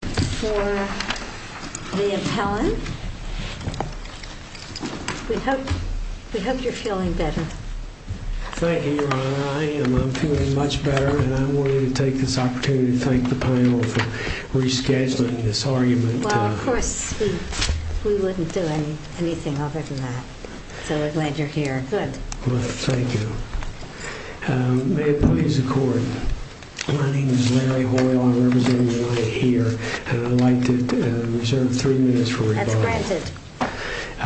For the appellant. We hope you're feeling better. Thank you, Your Honor. I am. I'm feeling much better. And I wanted to take this opportunity to thank the panel for rescheduling this argument. Well, of course, we wouldn't do anything other than that. So we're glad you're here. Good. Thank you. May it please the court. My name is Larry Hoyle. I represent UNITE here. And I'd like to reserve three minutes for rebuttal. That's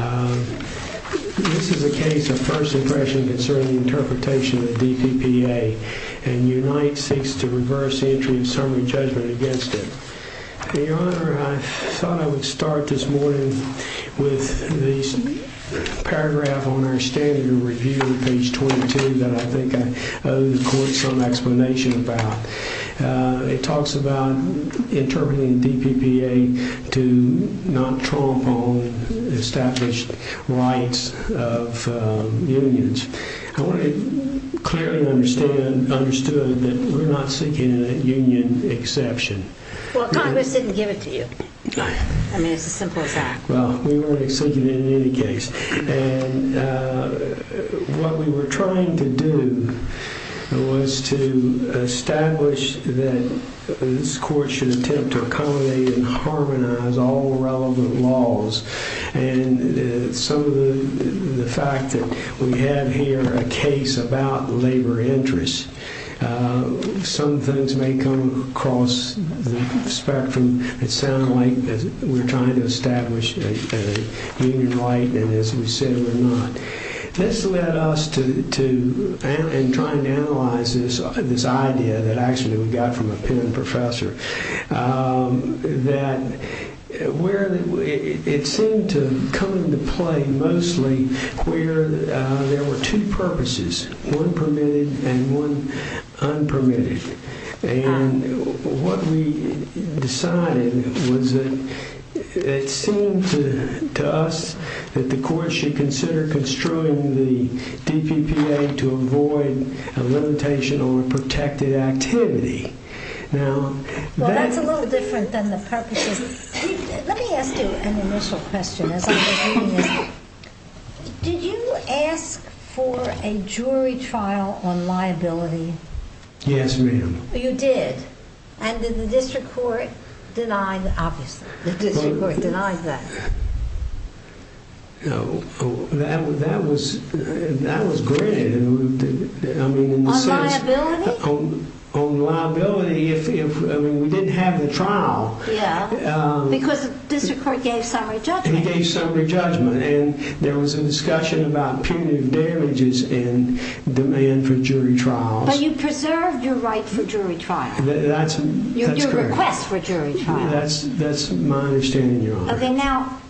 granted. This is a case of first impression concerning the interpretation of DPPA. And UNITE seeks to reverse the entry of summary judgment against it. Your Honor, I thought I would start this morning with the paragraph on our standard review, page 22, that I think I owe the court some explanation about. It talks about interpreting DPPA to not trump on established rights of unions. I clearly understood that we're not seeking a union exception. Well, Congress didn't give it to you. I mean, it's as simple as that. Well, we weren't seeking it in any case. And what we were trying to do was to establish that this court should attempt to accommodate and harmonize all relevant laws. And some of the fact that we have here a case about labor interests, some things may come across the spectrum that sound like we're trying to establish a union right, and as we said, we're not. This led us to try and analyze this idea that actually we got from a Penn professor, that it seemed to come into play mostly where there were two purposes, one permitted and one unpermitted. And what we decided was that it seemed to us that the court should consider construing the DPPA to avoid a limitation on protected activity. Well, that's a little different than the purposes. Let me ask you an initial question. Did you ask for a jury trial on liability? Yes, ma'am. You did? And did the district court deny that? No, that was granted. On liability? On liability, if we didn't have the trial. Yeah, because the district court gave summary judgment. And he gave summary judgment, and there was a discussion about punitive damages and demand for jury trials. But you preserved your right for jury trial. That's correct. Your request for jury trial. That's my understanding, Your Honor. Okay, now,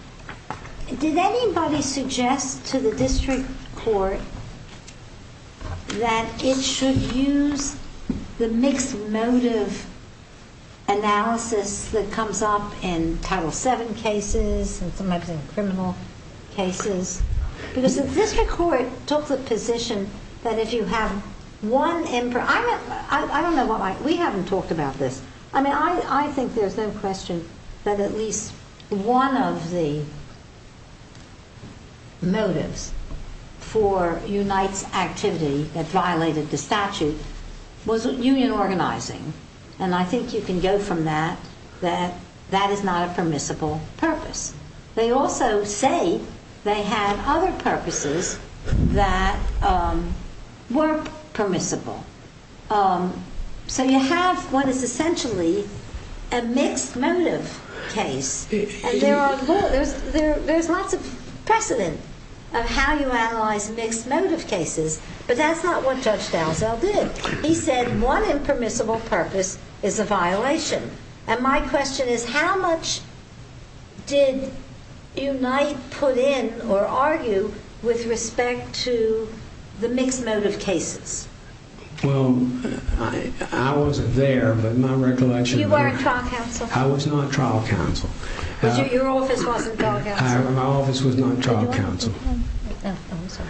did anybody suggest to the district court that it should use the mixed motive analysis that comes up in Title VII cases and sometimes in criminal cases? Because the district court took the position that if you have one impermissible purpose. I don't know why we haven't talked about this. I mean, I think there's no question that at least one of the motives for Unite's activity that violated the statute was union organizing. And I think you can go from that that that is not a permissible purpose. They also say they had other purposes that weren't permissible. So you have what is essentially a mixed motive case. And there's lots of precedent of how you analyze mixed motive cases, but that's not what Judge Dalzell did. He said one impermissible purpose is a violation. And my question is how much did Unite put in or argue with respect to the mixed motive cases? Well, I wasn't there, but my recollection. You weren't trial counsel? I was not trial counsel. Your office wasn't trial counsel? My office was not trial counsel. Oh, I'm sorry.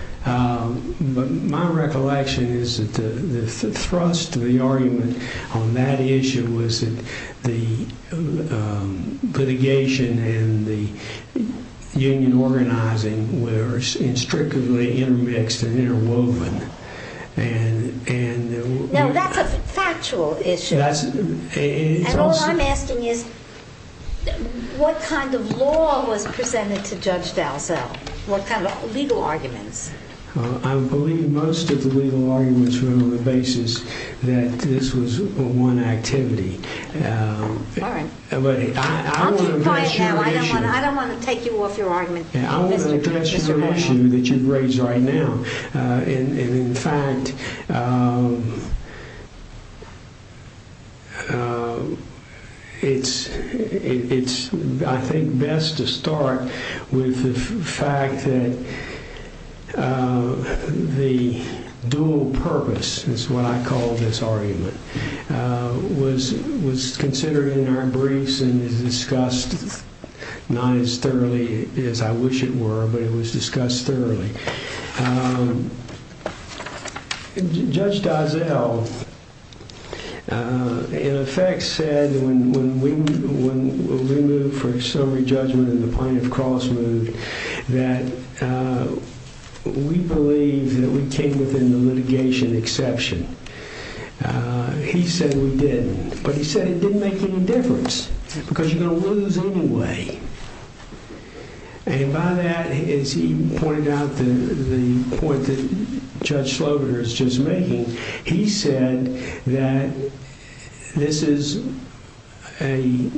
But my recollection is that the thrust of the argument on that issue was that the litigation and the union organizing were strictly intermixed and interwoven. No, that's a factual issue. And all I'm asking is what kind of law was presented to Judge Dalzell? What kind of legal arguments? Well, I believe most of the legal arguments were on the basis that this was one activity. All right. I'll keep quiet now. I don't want to take you off your argument, Mr. Brown. That you've raised right now. In fact, it's, I think, best to start with the fact that the dual purpose is what I call this argument, was considered in our briefs and is discussed not as thoroughly as I wish it were, but it was discussed thoroughly. Judge Dalzell, in effect, said when we moved for a summary judgment and the plaintiff's cross moved that we believe that we came within the litigation exception. He said we didn't. But he said it didn't make any difference because you're going to lose anyway. And by that, as he pointed out, the point that Judge Slobaner is just making, he said that this is a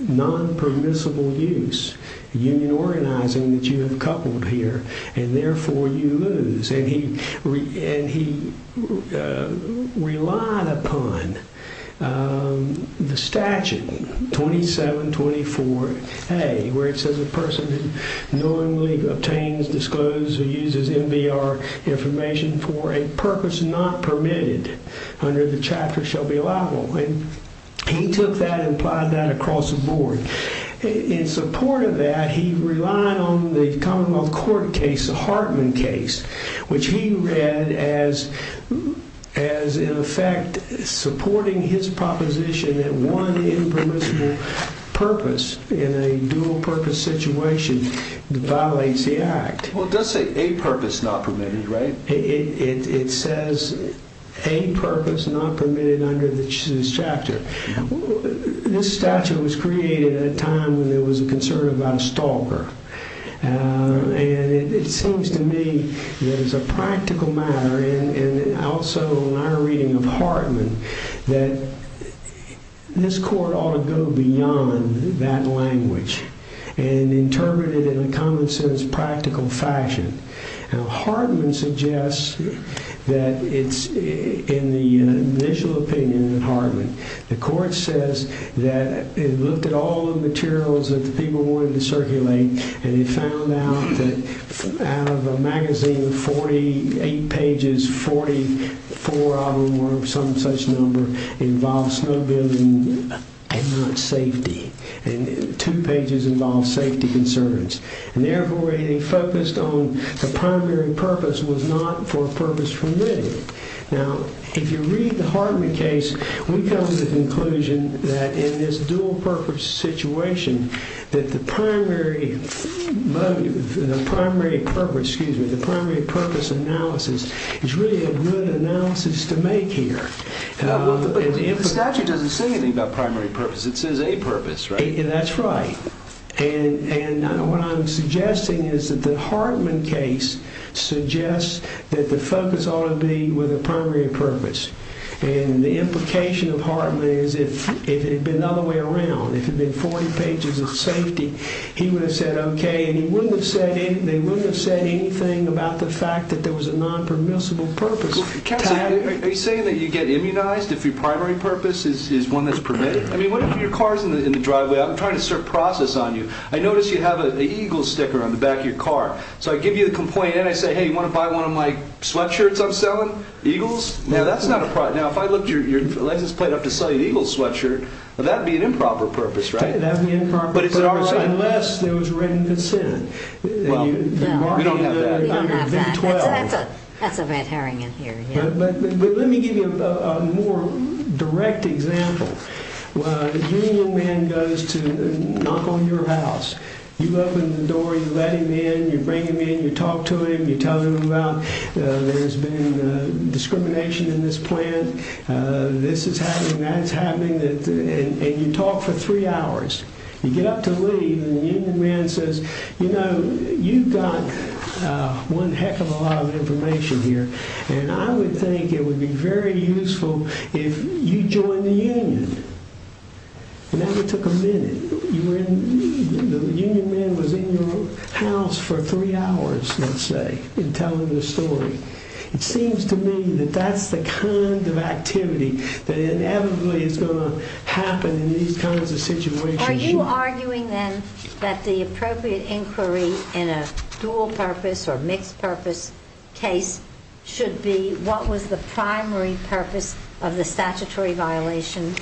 non-permissible use, union organizing, that you have coupled here. And therefore, you lose. And he relied upon the statute, 2724A, where it says a person who knowingly obtains, discloses, or uses MBR information for a purpose not permitted under the chapter shall be allowable. And he took that and applied that across the board. In support of that, he relied on the Commonwealth Court case, the Hartman case, which he read as, in effect, supporting his proposition that one impermissible purpose in a dual purpose situation violates the act. Well, it does say a purpose not permitted, right? It says a purpose not permitted under this chapter. This statute was created at a time when there was a concern about a stalker. And it seems to me that it's a practical matter, and also in our reading of Hartman, that this court ought to go beyond that language and interpret it in a common sense, practical fashion. Now, Hartman suggests that it's, in the initial opinion of Hartman, the court says that it looked at all the materials that the people wanted to circulate, and it found out that out of a magazine of 48 pages, 44 of them were of some such number, involved snowmobiling and not safety. And two pages involved safety concerns. And therefore, anything focused on a primary purpose was not for a purpose permitted. Now, if you read the Hartman case, we come to the conclusion that in this dual purpose situation, that the primary purpose analysis is really a good analysis to make here. But the statute doesn't say anything about primary purpose. It says a purpose, right? That's right. And what I'm suggesting is that the Hartman case suggests that the focus ought to be with a primary purpose. And the implication of Hartman is if it had been the other way around, if it had been 40 pages of safety, he would have said okay, and they wouldn't have said anything about the fact that there was a non-permissible purpose. Counselor, are you saying that you get immunized if your primary purpose is one that's permitted? I mean, what if your car is in the driveway? I'm trying to process on you. I notice you have an eagle sticker on the back of your car. So I give you the complaint and I say, hey, you want to buy one of my sweatshirts I'm selling? Eagles? Now, that's not a problem. Now, if I looked at your license plate up to sell you an eagle sweatshirt, that would be an improper purpose, right? That would be an improper purpose, unless it was written considering. Well, we don't have that. We don't have that. That's a bad herring in here. But let me give you a more direct example. A union man goes to knock on your house. You open the door, you let him in, you bring him in, you talk to him, you tell him about there's been discrimination in this plant, this is happening, that's happening, and you talk for three hours. You get up to leave and the union man says, you know, you've got one heck of a lot of information here. And I would think it would be very useful if you joined the union. And that would take a minute. The union man was in your house for three hours, let's say, and telling the story. It seems to me that that's the kind of activity that inevitably is going to happen in these kinds of situations. Are you arguing, then, that the appropriate inquiry in a dual purpose or mixed purpose case should be what was the primary purpose of the statutory violation?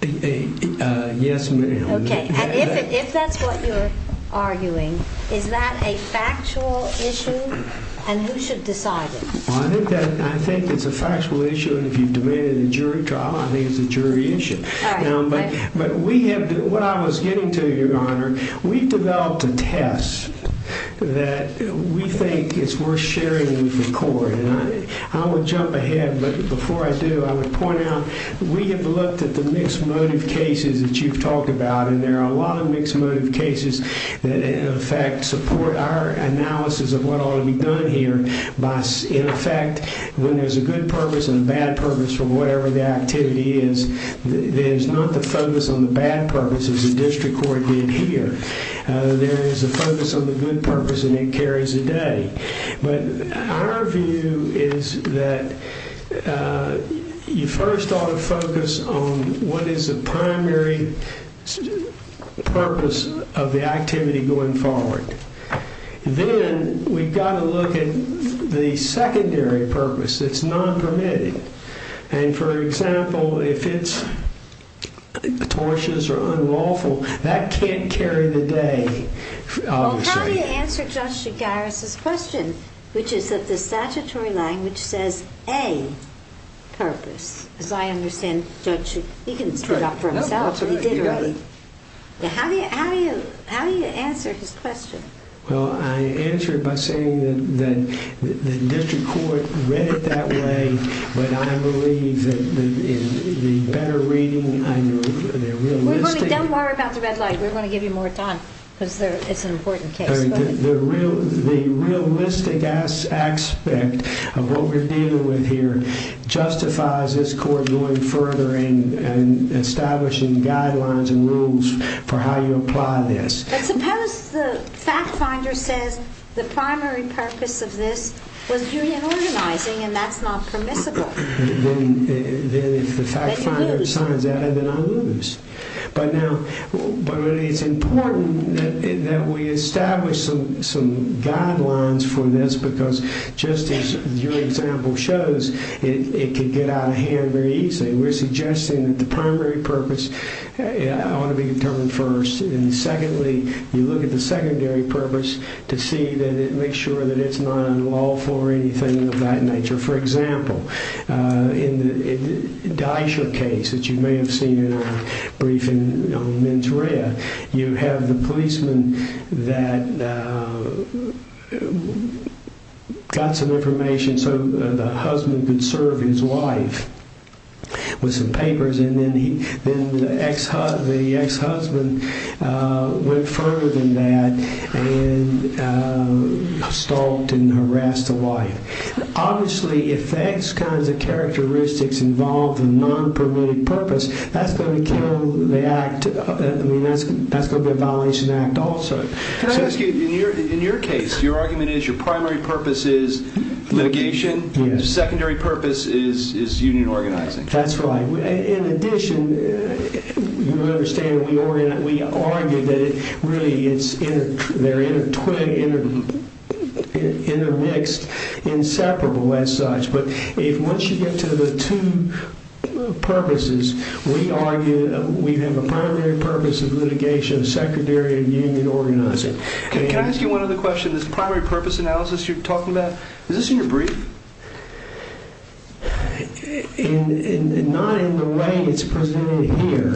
Yes, ma'am. Okay. And if that's what you're arguing, is that a factual issue? And who should decide it? I think it's a factual issue. And if you've debated a jury trial, I think it's a jury issue. But what I was getting to, Your Honor, we've developed a test that we think is worth sharing with the court. And I would jump ahead, but before I do, I would point out we have looked at the mixed motive cases that you've talked about, and there are a lot of mixed motive cases that, in effect, support our analysis of what ought to be done here. In effect, when there's a good purpose and a bad purpose for whatever the activity is, there's not the focus on the bad purpose as the district court did here. There is a focus on the good purpose, and it carries the day. But our view is that you first ought to focus on what is the primary purpose of the activity going forward. Then we've got to look at the secondary purpose that's non-permitted. And, for example, if it's atrocious or unlawful, that can't carry the day, obviously. Well, how do you answer Judge Shigaris' question, which is that the statutory language says, A, purpose? As I understand, Judge, he can spit it out for himself. That's right. You got it. How do you answer his question? Well, I answer it by saying that the district court read it that way, but I believe that in the better reading, I know the realistic— Don't worry about the red light. We're going to give you more time because it's an important case. The realistic aspect of what we're dealing with here justifies this court going further and establishing guidelines and rules for how you apply this. But suppose the fact finder says the primary purpose of this was union organizing, and that's not permissible. Then if the fact finder signs that, then I lose. But it's important that we establish some guidelines for this because, just as your example shows, it can get out of hand very easily. We're suggesting that the primary purpose ought to be determined first. And secondly, you look at the secondary purpose to see that it makes sure that it's not unlawful or anything of that nature. For example, in the Dysher case that you may have seen in our briefing on Menteria, you have the policeman that got some information so the husband could serve his wife with some papers. And then the ex-husband went further than that and stalked and harassed the wife. Obviously, if those kinds of characteristics involve the non-permitted purpose, that's going to be a violation of the act also. Can I ask you, in your case, your argument is your primary purpose is litigation, and your secondary purpose is union organizing? That's right. In addition, you understand we argue that they're intermixed, inseparable as such. But once you get to the two purposes, we argue that we have a primary purpose of litigation, a secondary and union organizing. Can I ask you one other question? This primary purpose analysis you're talking about, is this in your brief? Not in the way it's presented here.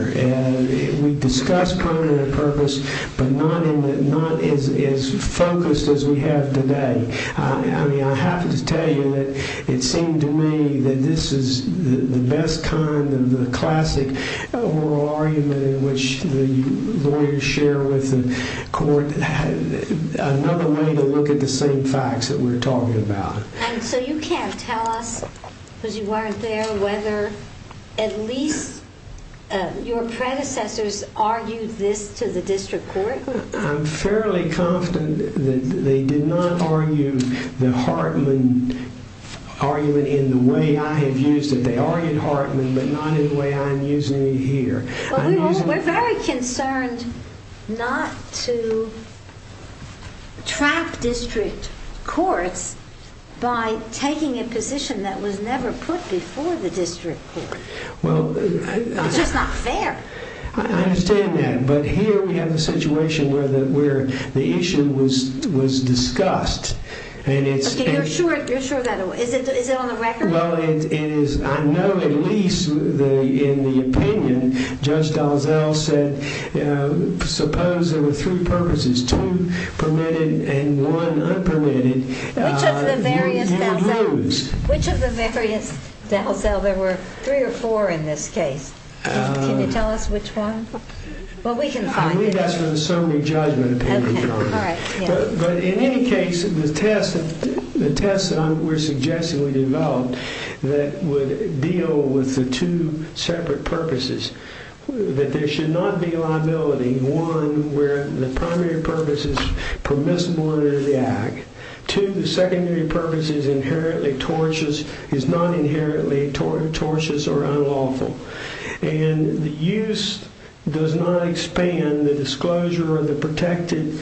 We've discussed primary purpose, but not as focused as we have today. I mean, I have to tell you that it seemed to me that this is the best kind of the classic oral argument in which the lawyers share with the court, another way to look at the same facts that we're talking about. And so you can't tell us, because you weren't there, whether at least your predecessors argued this to the district court? I'm fairly confident that they did not argue the Hartman argument in the way I have used it. They argued Hartman, but not in the way I'm using it here. We're very concerned not to trap district courts by taking a position that was never put before the district court. It's just not fair. I understand that. But here we have a situation where the issue was discussed. You're sure of that? Is it on the record? Well, I know at least in the opinion, Judge Dalzell said, suppose there were three purposes, two permitted and one unpermitted. Which of the various Dalzell? Which of the various Dalzell? There were three or four in this case. Can you tell us which one? Well, we can find it. I believe that's from the summary judgment opinion. But in any case, the test that we're suggesting we develop that would deal with the two separate purposes, that there should not be liability. One, where the primary purpose is permissible under the act. Two, the secondary purpose is not inherently tortious or unlawful. And the use does not expand the disclosure of the protected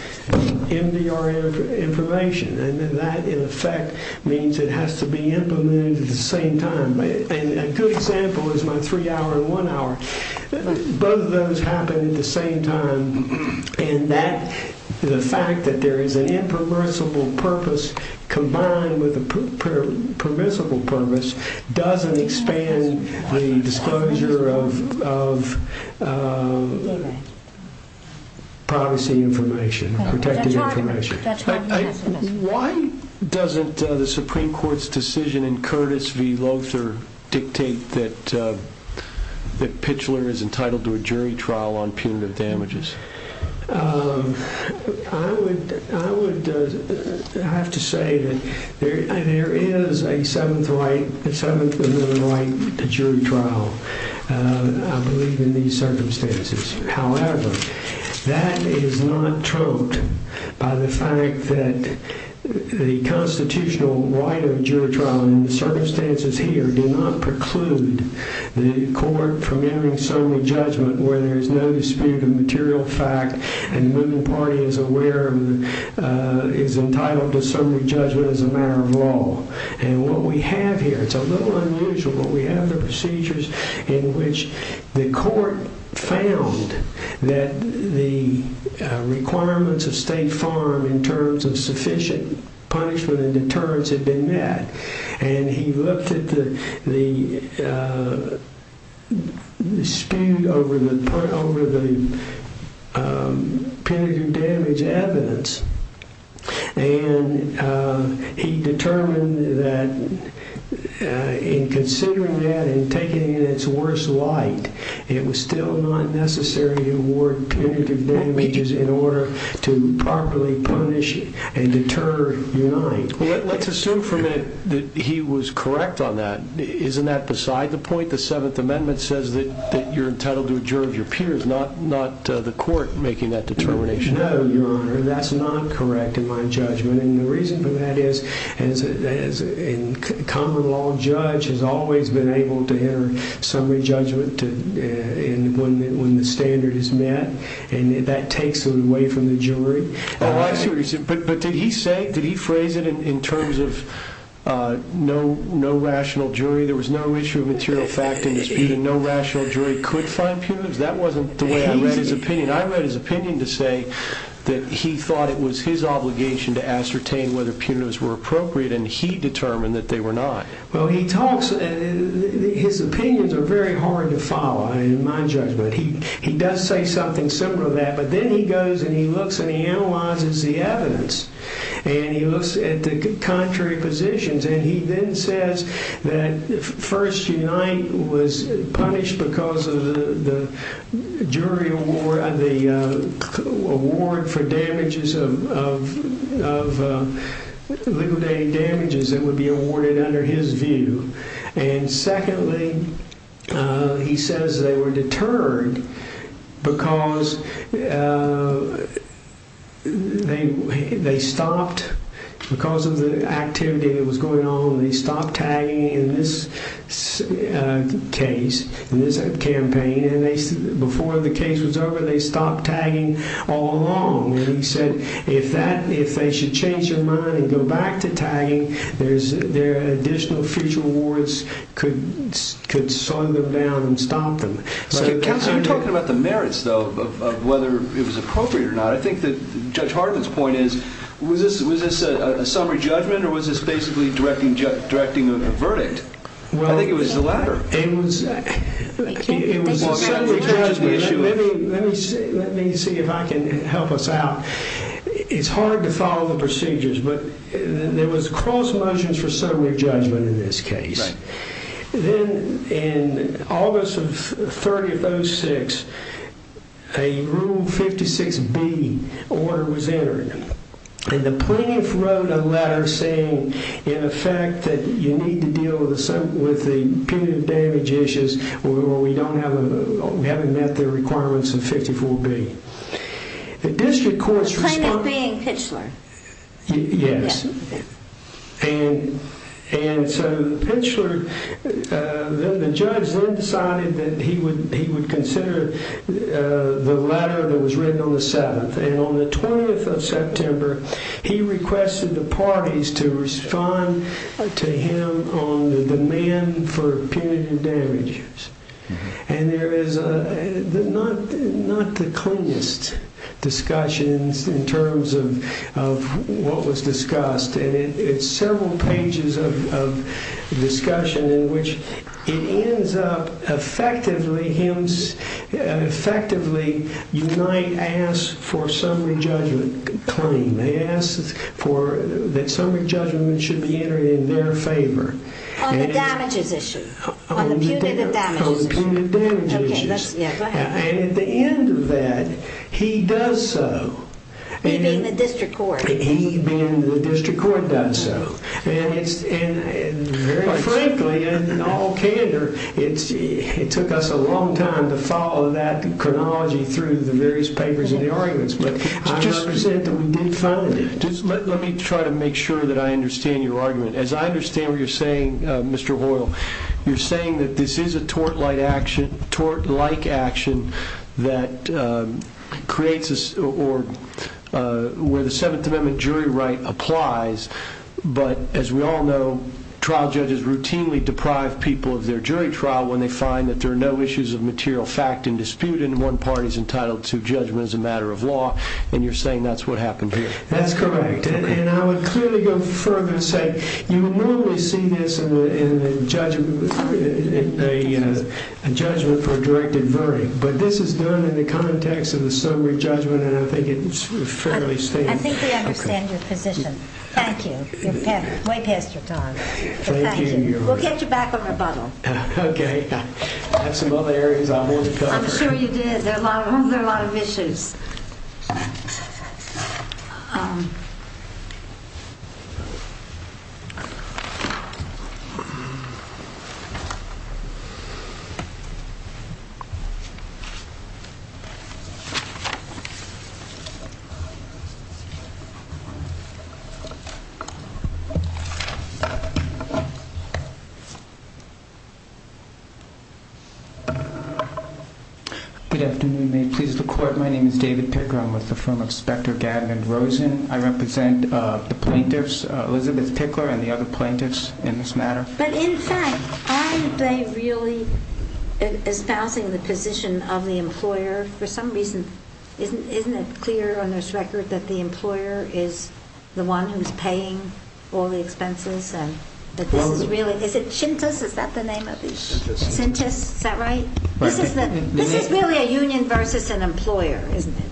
MDR information. And that, in effect, means it has to be implemented at the same time. A good example is my three-hour and one-hour. Both of those happen at the same time. And the fact that there is an impermissible purpose combined with a permissible purpose doesn't expand the disclosure of privacy information, protected information. Why doesn't the Supreme Court's decision in Curtis v. Lothar dictate that Pitchler is entitled to a jury trial on punitive damages? I would have to say that there is a seventh amendment right to jury trial, I believe, in these circumstances. However, that is not troped by the fact that the constitutional right of jury trial in the circumstances here do not preclude the court from hearing summary judgment where there is no dispute of material fact and the moving party is aware and is entitled to summary judgment as a matter of law. And what we have here, it's a little unusual, but we have the procedures in which the court found that the requirements of State Farm in terms of sufficient punishment and deterrence had been met. And he looked at the dispute over the punitive damage evidence and he determined that in considering that and taking it in its worst light, it was still not necessary to award punitive damages in order to properly punish and deter Unite. Let's assume for a minute that he was correct on that. Isn't that beside the point? The seventh amendment says that you're entitled to a jury of your peers, not the court making that determination. No, Your Honor, that's not correct in my judgment. And the reason for that is, as a common law judge has always been able to hear summary judgment when the standard is met, and that takes it away from the jury. But did he say, did he phrase it in terms of no rational jury? There was no issue of material fact in dispute and no rational jury could find punitives? That wasn't the way I read his opinion. I read his opinion to say that he thought it was his obligation to ascertain whether punitives were appropriate and he determined that they were not. Well, his opinions are very hard to follow in my judgment. He does say something similar to that, but then he goes and he looks and he analyzes the evidence and he looks at the contrary positions. And he then says that first Unite was punished because of the jury award, the award for damages of legal damages that would be awarded under his view. And secondly, he says they were deterred because they stopped, because of the activity that was going on, they stopped tagging in this case, in this campaign. And before the case was over, they stopped tagging all along. And he said, if that, if they should change their mind and go back to tagging, there's additional future awards could slow them down and stop them. Counselor, you're talking about the merits though, of whether it was appropriate or not. I think that Judge Hartman's point is, was this a summary judgment or was this basically directing a verdict? I think it was the latter. It was a summary judgment. Let me see if I can help us out. It's hard to follow the procedures, but there was cross motions for summary judgment in this case. Then in August of 30 of 06, a Rule 56B order was entered. And the plaintiff wrote a letter saying, in effect, that you need to deal with the punitive damage issues where we don't have, we haven't met the requirements of 54B. Plaintiff being Pitchler? Yes. And so Pitchler, the judge then decided that he would consider the letter that was written on the 7th. And on the 20th of September, he requested the parties to respond to him on the demand for punitive damages. And there is not the cleanest discussion in terms of what was discussed. And it's several pages of discussion in which it ends up effectively, you might ask for summary judgment claim. They ask that summary judgment should be entered in their favor. On the damages issue? On the punitive damages issue. On the punitive damages issue. And at the end of that, he does so. He being the district court? He being the district court does so. And very frankly, in all candor, it took us a long time to follow that chronology through the various papers and the arguments. But I understand that we did find it. Let me try to make sure that I understand your argument. As I understand what you're saying, Mr. Hoyle, you're saying that this is a tort-like action that creates or where the 7th Amendment jury right applies. But as we all know, trial judges routinely deprive people of their jury trial when they find that there are no issues of material fact in dispute and one party is entitled to judgment as a matter of law. And you're saying that's what happened here. That's correct. And I would clearly go further and say you will normally see this in a judgment for a directed verdict. But this is done in the context of the sobering judgment and I think it's fairly stable. I think we understand your position. Thank you. You're way past your time. Thank you. We'll get you back on rebuttal. Okay. I have some other areas I want to cover. I'm sure you did. There are a lot of issues. Good afternoon. My name is David Picker. I'm with the firm of Specter, Gadman, Rosen. I represent the plaintiffs, Elizabeth Pickler and the other plaintiffs in this matter. But in fact, aren't they really espousing the position of the employer? For some reason, isn't it clear on this record that the employer is the one who's paying all the expenses? Is it Sintas? Is that the name of it? Sintas. Sintas. Is that right? This is really a union versus an employer, isn't it?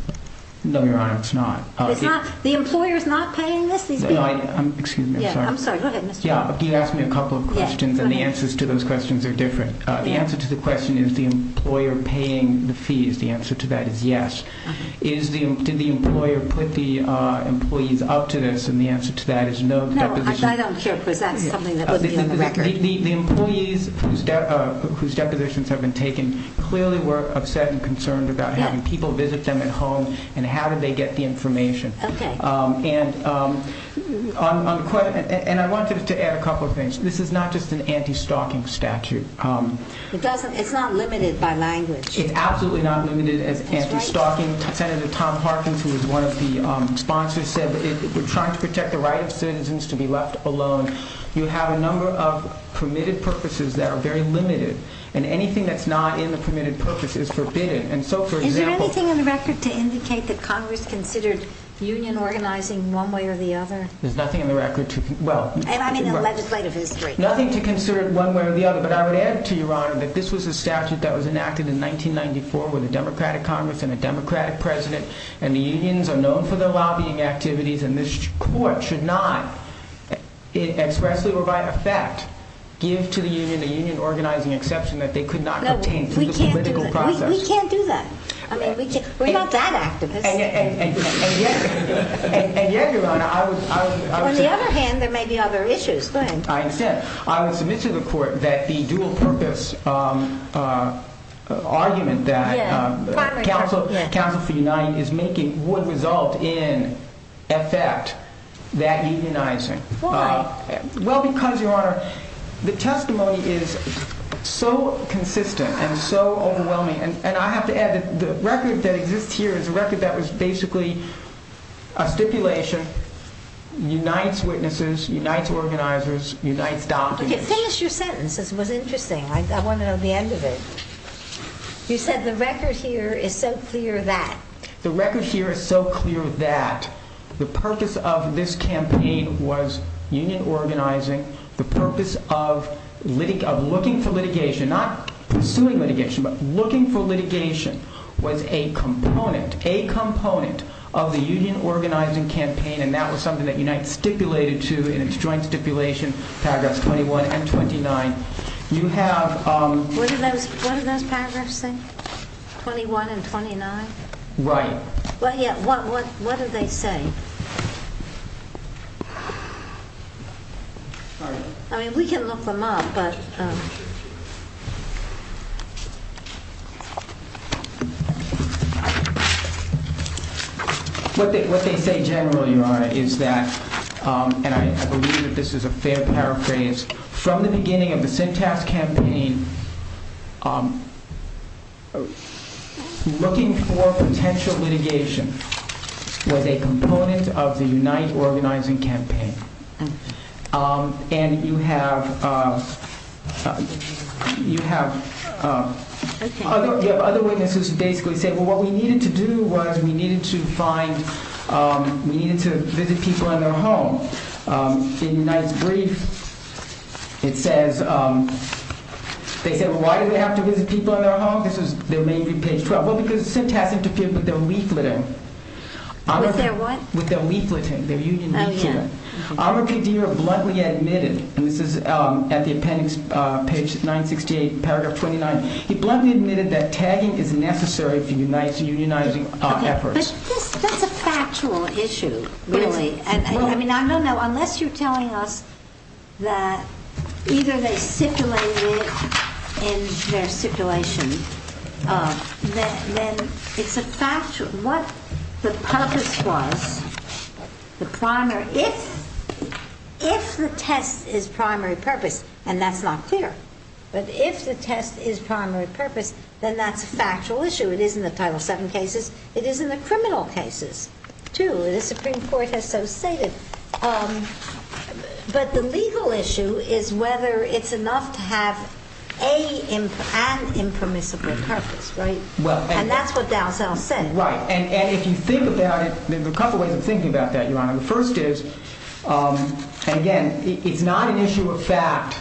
No, Your Honor, it's not. It's not? The employer is not paying this? Excuse me. I'm sorry. I'm sorry. Go ahead, Mr. Warren. You asked me a couple of questions and the answers to those questions are different. The answer to the question is the employer paying the fees. The answer to that is yes. Did the employer put the employees up to this? And the answer to that is no. I don't care because that's something that wouldn't be on the record. The employees whose depositions have been taken clearly were upset and concerned about having people visit them at home and how did they get the information. Okay. And I wanted to add a couple of things. This is not just an anti-stalking statute. It's not limited by language. It's absolutely not limited as anti-stalking. Senator Tom Harkins, who was one of the sponsors, said that we're trying to protect the right of citizens to be left alone. You have a number of permitted purposes that are very limited. And anything that's not in the permitted purpose is forbidden. And so, for example— Is there anything in the record to indicate that Congress considered union organizing one way or the other? There's nothing in the record to—well— And I mean in legislative history. Nothing to consider it one way or the other. But I would add to Your Honor that this was a statute that was enacted in 1994 with a Democratic Congress and a Democratic president. And the unions are known for their lobbying activities and this court should not— expressly or by effect give to the union a union organizing exception that they could not obtain through the political process. No, we can't do that. We can't do that. I mean, we're not that activist. And yet, Your Honor, I would— Go ahead. I would submit to the court that the dual purpose argument that Council for Uniting is making would result in effect that unionizing. Why? Well, because, Your Honor, the testimony is so consistent and so overwhelming. And I have to add that the record that exists here is a record that was basically a stipulation, unites witnesses, unites organizers, unites doctors. Okay, finish your sentence. This was interesting. I want to know the end of it. You said the record here is so clear that— The record here is so clear that the purpose of this campaign was union organizing. The purpose of looking for litigation, not pursuing litigation, but looking for litigation, was a component, a component of the union organizing campaign, and that was something that Unite stipulated to in its joint stipulation, paragraphs 21 and 29. You have— What did those paragraphs say? 21 and 29? Right. Well, yeah, what did they say? I mean, we can look them up, but— What they say generally, Your Honor, is that, and I believe that this is a fair paraphrase, from the beginning of the Syntax Campaign, looking for potential litigation was a component of the Unite organizing campaign. And you have other witnesses who basically say, well, what we needed to do was we needed to find, we needed to visit people in their home. In Unite's brief, it says, they said, well, why did they have to visit people in their home? This is, there may be page 12. Well, because Syntax interfered with their leafleting. With their what? With their leafleting, their union leafleting. Oh, yeah. R.P. Deere bluntly admitted, and this is at the appendix, page 968, paragraph 29, he bluntly admitted that tagging is necessary for Unite's unionizing efforts. Okay, but that's a factual issue, really. I mean, I don't know, unless you're telling us that either they stipulated in their stipulation, then it's a factual, what the purpose was, the primary, if the test is primary purpose, and that's not clear, but if the test is primary purpose, then that's a factual issue. It is in the Title VII cases. It is in the criminal cases, too. The Supreme Court has so stated. But the legal issue is whether it's enough to have an impermissible purpose, right? And that's what Dalzell said. Right, and if you think about it, there are a couple of ways of thinking about that, Your Honor. The first is, and again, it's not an issue of fact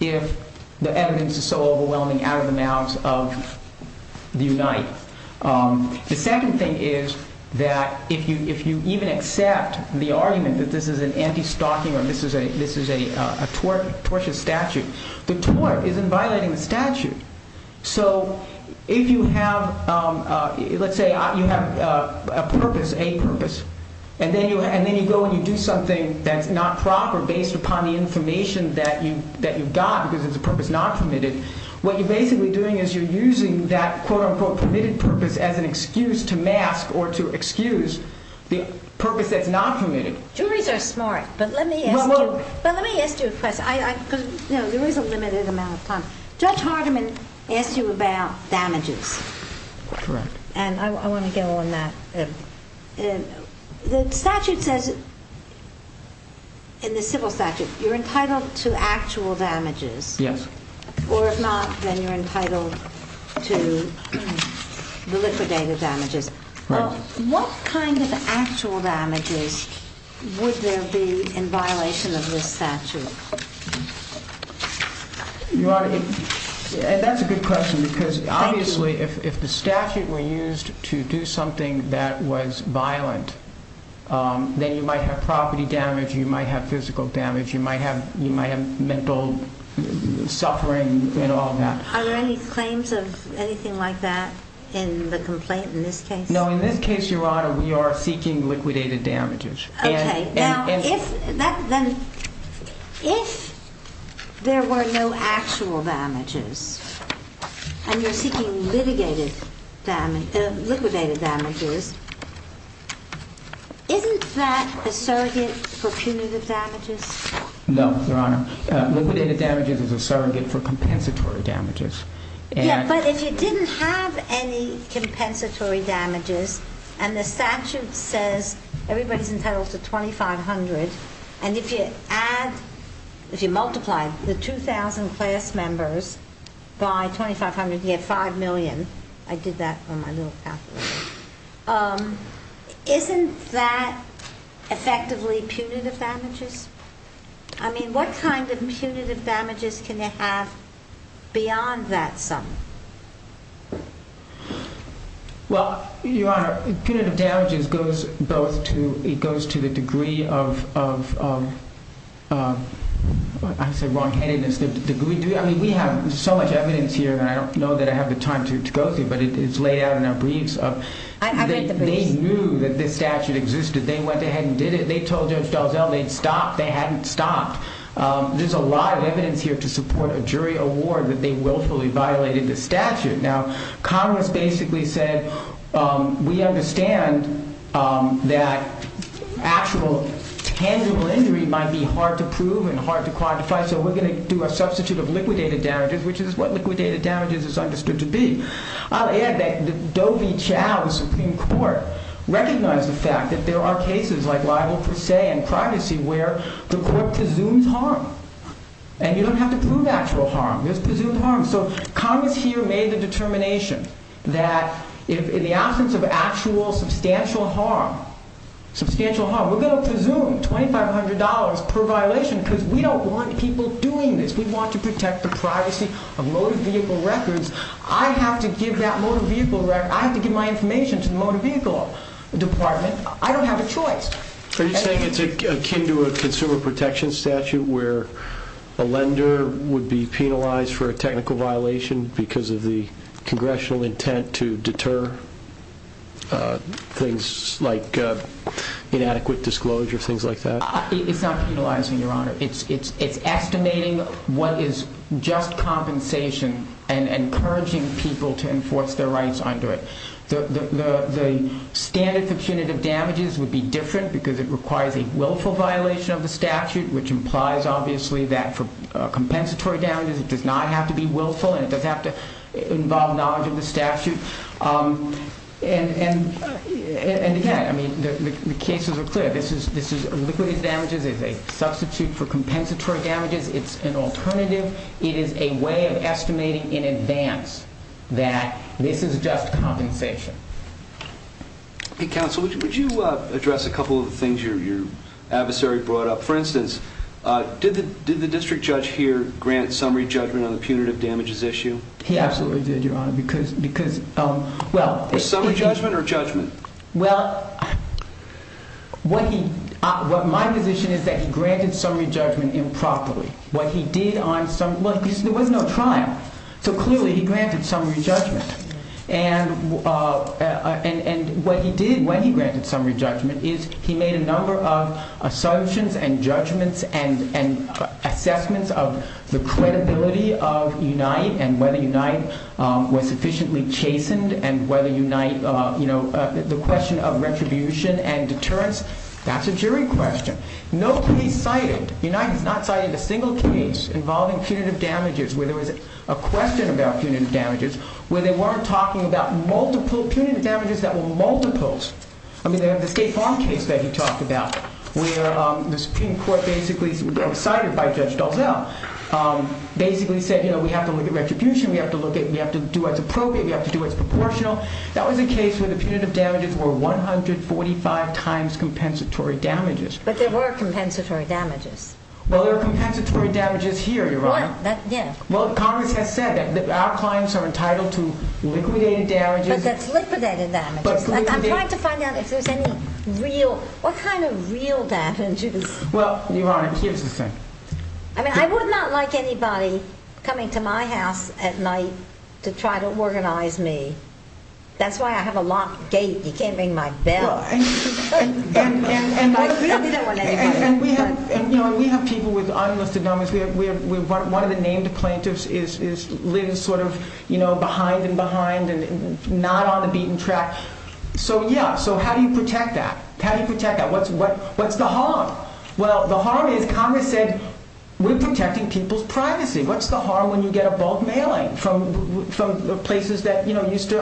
if the evidence is so overwhelming out of the mouths of the Unite. The second thing is that if you even accept the argument that this is an anti-stalking or this is a tortious statute, the tort isn't violating the statute. So if you have, let's say, you have a purpose, a purpose, and then you go and you do something that's not proper based upon the information that you've got because it's a purpose not permitted, what you're basically doing is you're using that, quote, unquote, permitted purpose as an excuse to mask or to excuse the purpose that's not permitted. Juries are smart, but let me ask you a question because there is a limited amount of time. Judge Hardiman asked you about damages. Correct. And I want to go on that. The statute says in the civil statute you're entitled to actual damages. Yes. Or if not, then you're entitled to the liquidated damages. Right. What kind of actual damages would there be in violation of this statute? Your Honor, that's a good question because obviously if the statute were used to do something that was violent, then you might have property damage, you might have physical damage, you might have mental suffering and all that. Are there any claims of anything like that in the complaint in this case? No. In this case, Your Honor, we are seeking liquidated damages. Okay. Now, if there were no actual damages and you're seeking liquidated damages, isn't that a surrogate for punitive damages? No, Your Honor. Liquidated damages is a surrogate for compensatory damages. But if you didn't have any compensatory damages and the statute says everybody's entitled to $2,500 and if you add, if you multiply the 2,000 class members by $2,500, you get $5 million. I did that on my little calculator. Isn't that effectively punitive damages? I mean, what kind of punitive damages can it have beyond that sum? Well, Your Honor, punitive damages goes both to, it goes to the degree of, I say wrongheadedness. I mean, we have so much evidence here that I don't know that I have the time to go through, but it's laid out in our briefs. I read the briefs. They knew that this statute existed. They went ahead and did it. They told Judge Dalzell they'd stop. They hadn't stopped. There's a lot of evidence here to support a jury award that they willfully violated the statute. Now, Congress basically said, we understand that actual tangible injury might be hard to prove and hard to quantify, so we're going to do a substitute of liquidated damages, which is what liquidated damages is understood to be. I'll add that Dovi Chow, the Supreme Court, recognized the fact that there are cases like libel per se and privacy where the court presumes harm. And you don't have to prove actual harm. There's presumed harm. So Congress here made the determination that in the absence of actual substantial harm, substantial harm, we're going to presume $2,500 per violation because we don't want people doing this. We want to protect the privacy of motor vehicle records. I have to give that motor vehicle record. I have to give my information to the motor vehicle department. I don't have a choice. Are you saying it's akin to a consumer protection statute where a lender would be penalized for a technical violation because of the congressional intent to deter things like inadequate disclosure, things like that? It's not penalizing, Your Honor. It's estimating what is just compensation and encouraging people to enforce their rights under it. The standard for punitive damages would be different because it requires a willful violation of the statute, which implies obviously that for compensatory damages it does not have to be willful and it doesn't have to involve knowledge of the statute. And again, the cases are clear. This is illiquid damages. It's a substitute for compensatory damages. It's an alternative. It is a way of estimating in advance that this is just compensation. Counsel, would you address a couple of the things your adversary brought up? For instance, did the district judge here grant summary judgment on the punitive damages issue? He absolutely did, Your Honor, Summary judgment or judgment? Well, my position is that he granted summary judgment improperly. There was no trial, so clearly he granted summary judgment. And what he did when he granted summary judgment is he made a number of assumptions and judgments and assessments of the credibility of Unite and whether Unite was sufficiently chastened and whether Unite, you know, the question of retribution and deterrence, that's a jury question. No case cited, Unite has not cited a single case involving punitive damages where there was a question about punitive damages, where they weren't talking about multiple punitive damages that were multiples. I mean, the State Farm case that he talked about where the Supreme Court basically, cited by Judge Dalzell, basically said, you know, we have to look at retribution, we have to look at, we have to do what's appropriate, we have to do what's proportional. That was a case where the punitive damages were 145 times compensatory damages. But there were compensatory damages. Well, there are compensatory damages here, Your Honor. What? That, yeah. Well, Congress has said that our clients are entitled to liquidated damages. But that's liquidated damages. I'm trying to find out if there's any real, what kind of real damages? Well, Your Honor, here's the thing. I mean, I would not like anybody coming to my house at night to try to organize me. That's why I have a locked gate. You can't ring my bell. And we have people with unlisted numbers. One of the named plaintiffs lives sort of behind and behind and not on the beaten track. So, yeah, so how do you protect that? How do you protect that? What's the harm? Well, the harm is Congress said we're protecting people's privacy. What's the harm when you get a bulk mailing from places that used to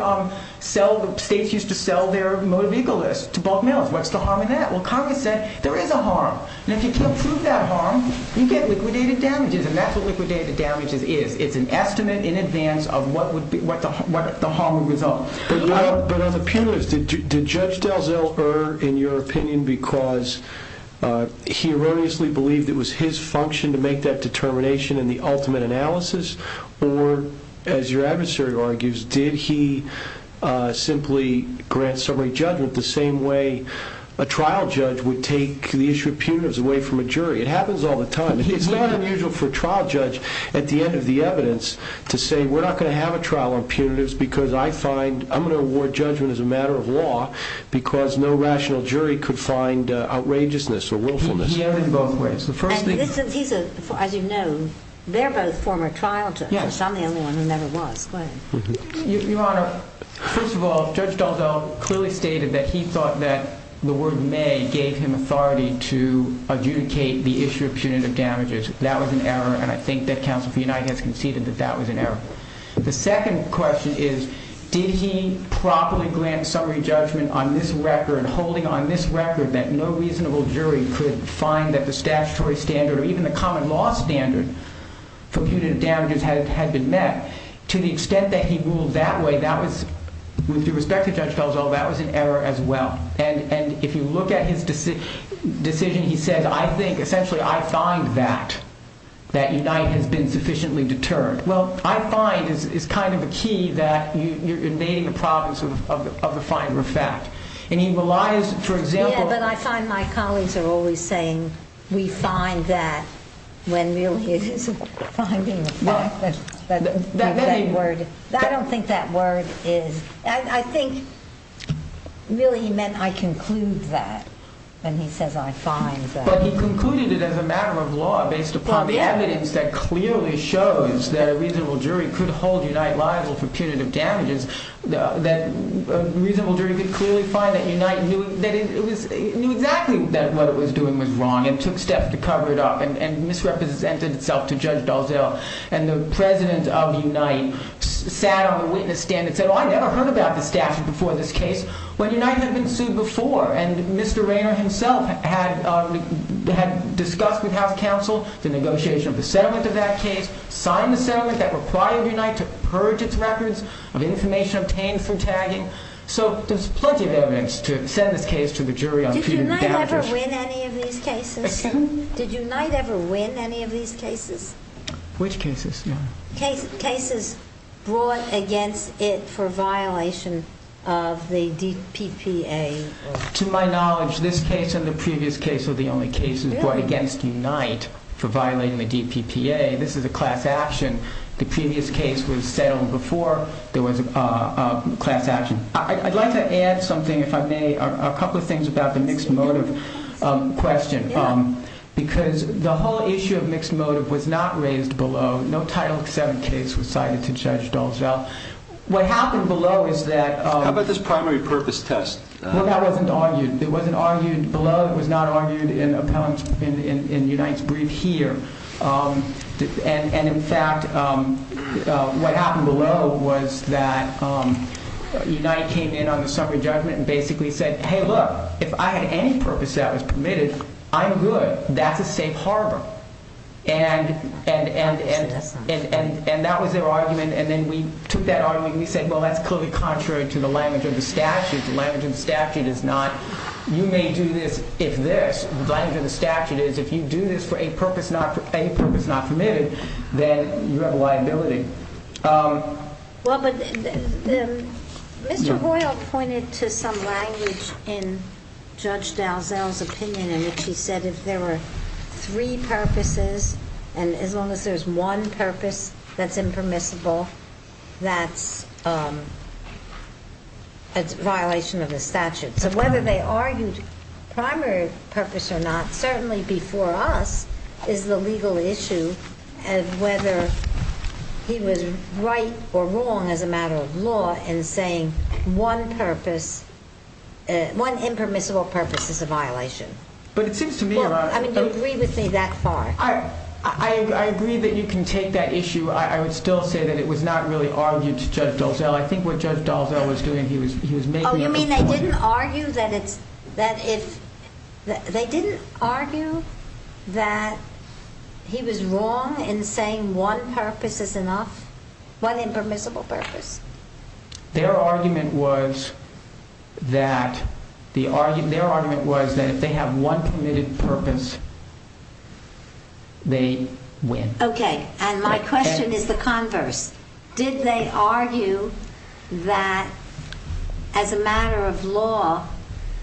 sell, states used to sell their motor vehicle lists to bulk mailers? Well, Congress said there is a harm. And if you can't prove that harm, you get liquidated damages. And that's what liquidated damages is. It's an estimate in advance of what the harm would result. But on the punitives, did Judge Delzell err in your opinion because he erroneously believed it was his function to make that determination in the ultimate analysis? Or, as your adversary argues, did he simply grant summary judgment the same way a trial judge would take the issue of punitives away from a jury? It happens all the time. It's not unusual for a trial judge, at the end of the evidence, to say we're not going to have a trial on punitives because I'm going to award judgment as a matter of law because no rational jury could find outrageousness or willfulness. He erred in both ways. As you know, they're both former trial judges. I'm the only one who never was. Go ahead. Your Honor, first of all, Judge Delzell clearly stated that he thought that the word may gave him authority to adjudicate the issue of punitive damages. That was an error, and I think that Counsel for United has conceded that that was an error. The second question is, did he properly grant summary judgment on this record, holding on this record that no reasonable jury could find that the statutory standard or even the common law standard for punitive damages had been met to the extent that he ruled that way? With respect to Judge Delzell, that was an error as well. And if you look at his decision, he says, I think, essentially, I find that, that United has been sufficiently deterred. Well, I find is kind of a key that you're invading the province of the finer of fact. And he relies, for example— Yeah, but I find my colleagues are always saying we find that when really it is a finer of fact. I don't think that word is—I think really he meant I conclude that when he says I find that. But he concluded it as a matter of law based upon the evidence that clearly shows that a reasonable jury could hold United liable for punitive damages, that a reasonable jury could clearly find that United knew exactly that what it was doing was wrong and took steps to cover it up and misrepresented itself to Judge Delzell. And the president of Unite sat on the witness stand and said, I never heard about this statute before this case when United had been sued before. And Mr. Rayner himself had discussed with House counsel the negotiation of the settlement of that case, signed the settlement that required Unite to purge its records of information obtained from tagging. So there's plenty of evidence to send this case to the jury on punitive damages. Did Unite ever win any of these cases? Which cases? Cases brought against it for violation of the DPPA. To my knowledge, this case and the previous case are the only cases brought against Unite for violating the DPPA. This is a class action. The previous case was settled before there was a class action. I'd like to add something, if I may, a couple of things about the mixed motive question. Because the whole issue of mixed motive was not raised below. No Title VII case was cited to Judge Delzell. What happened below is that... How about this primary purpose test? Well, that wasn't argued. It wasn't argued below. It was not argued in Unite's brief here. And in fact, what happened below was that Unite came in on the summary judgment and basically said, Hey, look, if I had any purpose that was permitted, I'm good. That's a safe harbor. And that was their argument. And then we took that argument and we said, well, that's clearly contrary to the language of the statute. The language of the statute is not you may do this if this. The language of the statute is if you do this for a purpose not permitted, then you have a liability. Well, but Mr. Hoyle pointed to some language in Judge Delzell's opinion in which he said if there were three purposes, and as long as there's one purpose that's impermissible, that's a violation of the statute. So whether they argued primary purpose or not, certainly before us is the legal issue of whether he was right or wrong as a matter of law in saying one purpose, one impermissible purpose is a violation. But it seems to me about... I mean, do you agree with me that far? I agree that you can take that issue. I would still say that it was not really argued to Judge Delzell. I think what Judge Delzell was doing, he was making... Oh, you mean they didn't argue that he was wrong in saying one purpose is enough, one impermissible purpose? Their argument was that if they have one permitted purpose, they win. Okay, and my question is the converse. Did they argue that as a matter of law,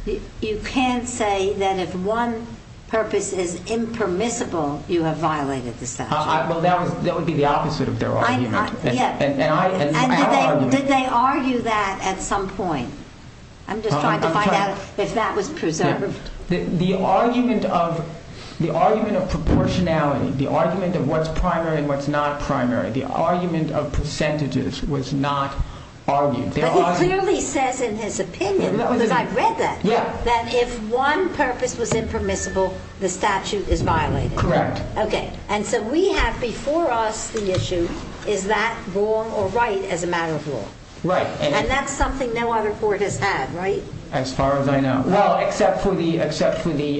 you can't say that if one purpose is impermissible, you have violated the statute? Well, that would be the opposite of their argument. Did they argue that at some point? I'm just trying to find out if that was preserved. The argument of proportionality, the argument of what's primary and what's not primary, the argument of percentages was not argued. But he clearly says in his opinion, because I've read that, that if one purpose was impermissible, the statute is violated. Correct. Okay, and so we have before us the issue, is that wrong or right as a matter of law? Right. And that's something no other court has had, right? As far as I know. Well, except for the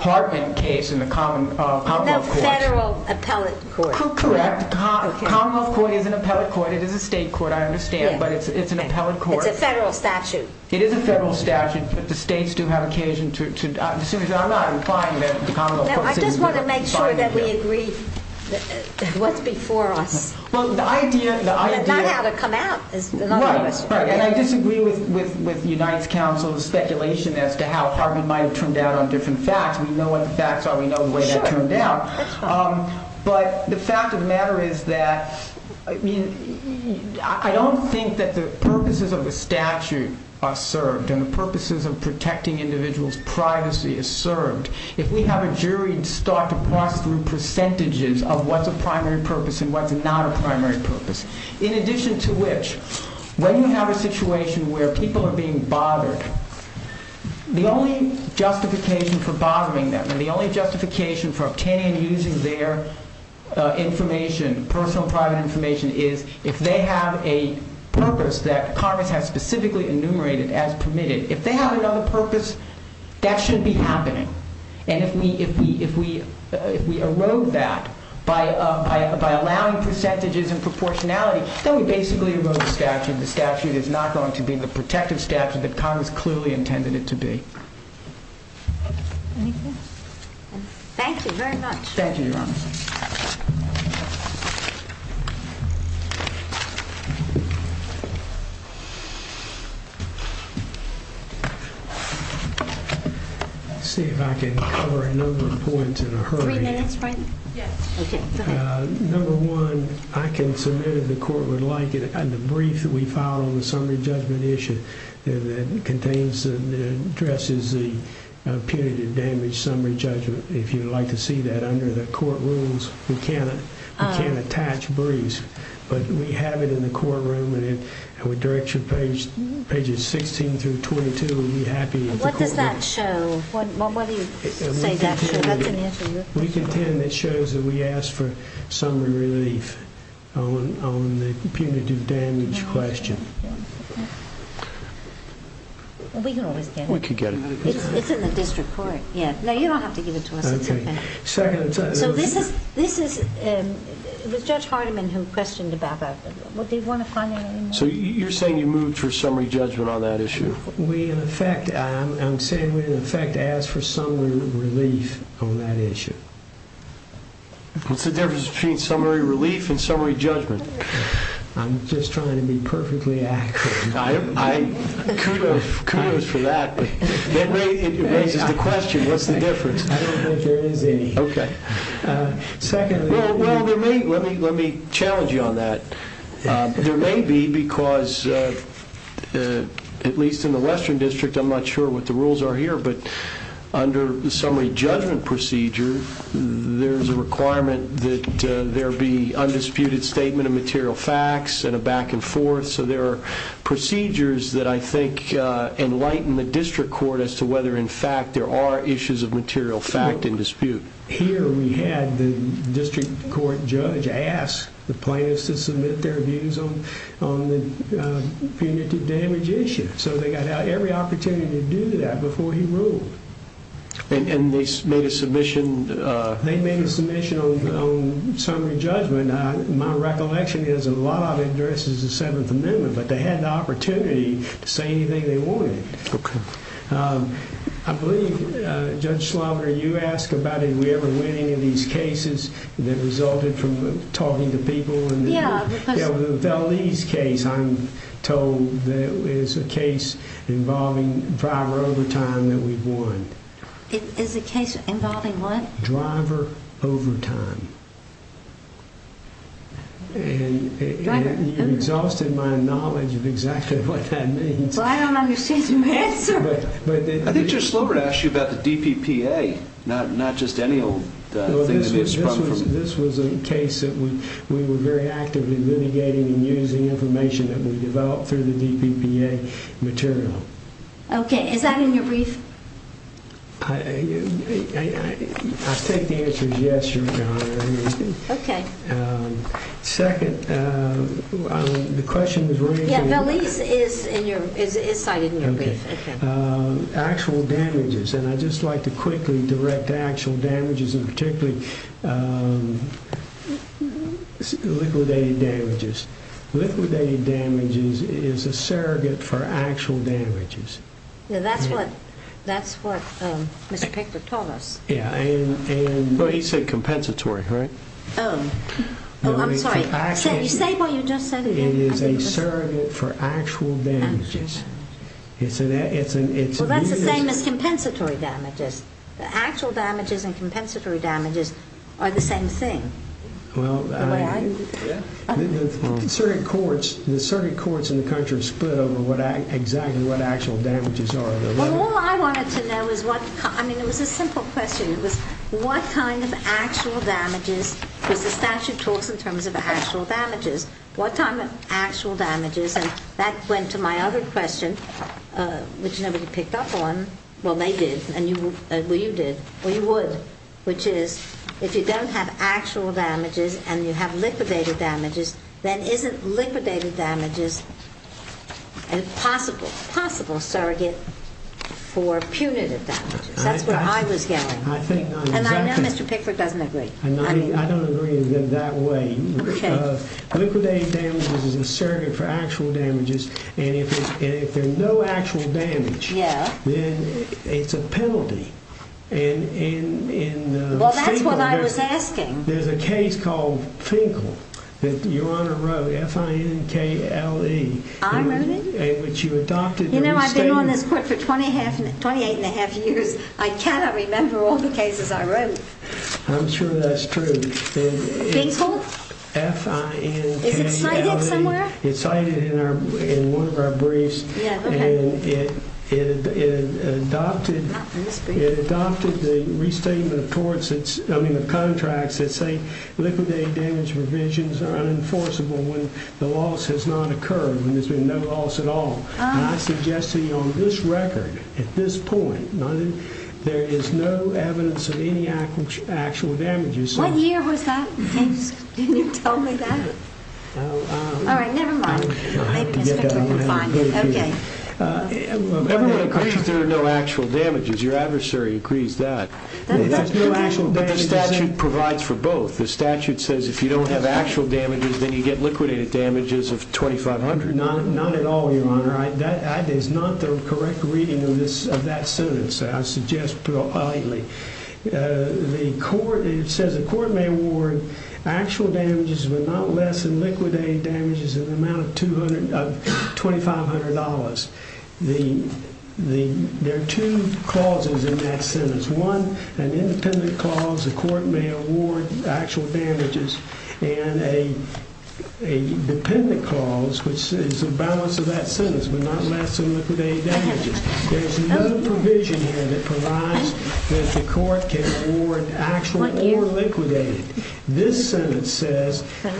Hartman case in the Commonwealth Courts. No, Federal Appellate Court. Correct. The Commonwealth Court is an appellate court. It is a state court, I understand, but it's an appellate court. It's a federal statute. It is a federal statute, but the states do have occasion to, as soon as I'm not implying that the Commonwealth Courts is. No, I just want to make sure that we agree what's before us. Well, the idea, the idea. Not how to come out is another question. Right, and I disagree with Unite's counsel's speculation as to how Hartman might have turned out on different facts. We know what the facts are. We know the way that turned out. That's fine. But the fact of the matter is that, I mean, I don't think that the purposes of the statute are served and the purposes of protecting individuals' privacy are served. If we have a jury start to process through percentages of what's a primary purpose and what's not a primary purpose, in addition to which, when you have a situation where people are being bothered, the only justification for bothering them and the only justification for obtaining and using their information, personal and private information, is if they have a purpose that Congress has specifically enumerated as permitted. If they have another purpose, that shouldn't be happening. And if we erode that by allowing percentages and proportionality, then we basically erode the statute. The statute is not going to be the protective statute that Congress clearly intended it to be. Thank you very much. Thank you, Your Honor. Thank you. Let's see if I can cover a number of points in a hurry. Three minutes, right? Yes. Okay. Go ahead. Number one, I can submit, if the court would like it, the brief that we filed on the summary judgment issue that contains and addresses the punitive damage summary judgment. If you would like to see that under the court rules, we can't attach briefs, but we have it in the courtroom and it would direct you to pages 16 through 22. What does that show? What do you say that shows? We contend it shows that we asked for summary relief on the punitive damage question. We can always get it. We could get it. It's in the district court. No, you don't have to give it to us. It's okay. It was Judge Hardiman who questioned about that. Do you want to find out any more? You're saying you moved for summary judgment on that issue? I'm saying we, in effect, asked for summary relief on that issue. What's the difference between summary relief and summary judgment? I'm just trying to be perfectly accurate. Kudos for that. It raises the question, what's the difference? I don't think there is any. Okay. Well, let me challenge you on that. There may be because, at least in the Western District, I'm not sure what the rules are here, but under the summary judgment procedure, there's a requirement that there be undisputed statement of material facts and a back and forth, so there are procedures that I think enlighten the district court as to whether, in fact, there are issues of material fact in dispute. Here we had the district court judge ask the plaintiffs to submit their views on the punitive damage issue. So they got every opportunity to do that before he ruled. And they made a submission? They made a submission on summary judgment. My recollection is a lot of it addresses the Seventh Amendment, but they had the opportunity to say anything they wanted. Okay. I believe, Judge Schlover, you asked about, did we ever win any of these cases that resulted from talking to people? Yeah, because— Yeah, the Valdez case, I'm told, is a case involving driver overtime that we've won. Is a case involving what? Driver overtime. And you've exhausted my knowledge of exactly what that means. Well, I don't understand your answer. I think Judge Schlover asked you about the DPPA, not just any old thing that has sprung from— This was a case that we were very actively litigating and using information that we developed through the DPPA material. Okay. Is that in your brief? I take the answer as yes, Your Honor. Okay. Second, the question was raised in— Yeah, Valdez is cited in your brief. Okay. Actual damages, and I'd just like to quickly direct actual damages, and particularly liquidated damages. Liquidated damages is a surrogate for actual damages. Yeah, that's what Mr. Pickford told us. Yeah, and— Well, he said compensatory, right? Oh. Oh, I'm sorry. Say what you just said again. It is a surrogate for actual damages. Well, that's the same as compensatory damages. The actual damages and compensatory damages are the same thing. Well, I— The way I— Well, all I wanted to know is what—I mean, it was a simple question. It was what kind of actual damages was the statute talks in terms of actual damages? What kind of actual damages? And that went to my other question, which nobody picked up on. Well, they did, and you—well, you did, or you would, which is if you don't have actual damages and you have liquidated damages, then isn't liquidated damages a possible surrogate for punitive damages? That's where I was going. I think— And I know Mr. Pickford doesn't agree. I don't agree in that way. Okay. Liquidated damages is a surrogate for actual damages, and if there's no actual damage, then it's a penalty. And in— Well, that's what I was asking. There's a case called Finkel that Your Honor wrote, F-I-N-K-L-E. I wrote it? In which you adopted the restatement— You know, I've been on this court for 28 1⁄2 years. I cannot remember all the cases I wrote. I'm sure that's true. Finkel? F-I-N-K-L-E. Is it cited somewhere? It's cited in one of our briefs. Yeah, okay. And it adopted the restatement of courts that's— I mean the contracts that say liquidated damage revisions are unenforceable when the loss has not occurred, when there's been no loss at all. And I suggest to you on this record, at this point, there is no evidence of any actual damages. What year was that? Can you tell me that? All right, never mind. Maybe Mr. Finkel can find it. Okay. Everyone agrees there are no actual damages. Your adversary agrees that. But the statute provides for both. The statute says if you don't have actual damages, then you get liquidated damages of $2,500. Not at all, Your Honor. That is not the correct reading of that sentence, I suggest politely. It says the court may award actual damages but not less than liquidated damages in the amount of $2,500. There are two clauses in that sentence. One, an independent clause, the court may award actual damages. And a dependent clause, which is a balance of that sentence, but not less than liquidated damages. There's another provision here that provides that the court can award actual or liquidated. This sentence says that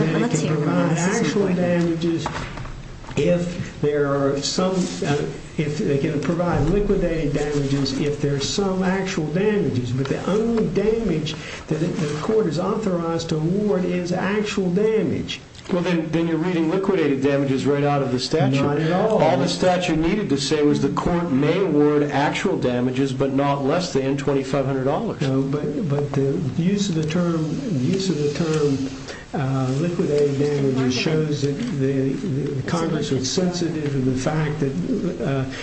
it can provide liquidated damages if there are some actual damages. But the only damage that the court is authorized to award is actual damage. Well, then you're reading liquidated damages right out of the statute. Not at all. All the statute needed to say was the court may award actual damages but not less than $2,500. But the use of the term liquidated damages shows that Congress is sensitive to the fact that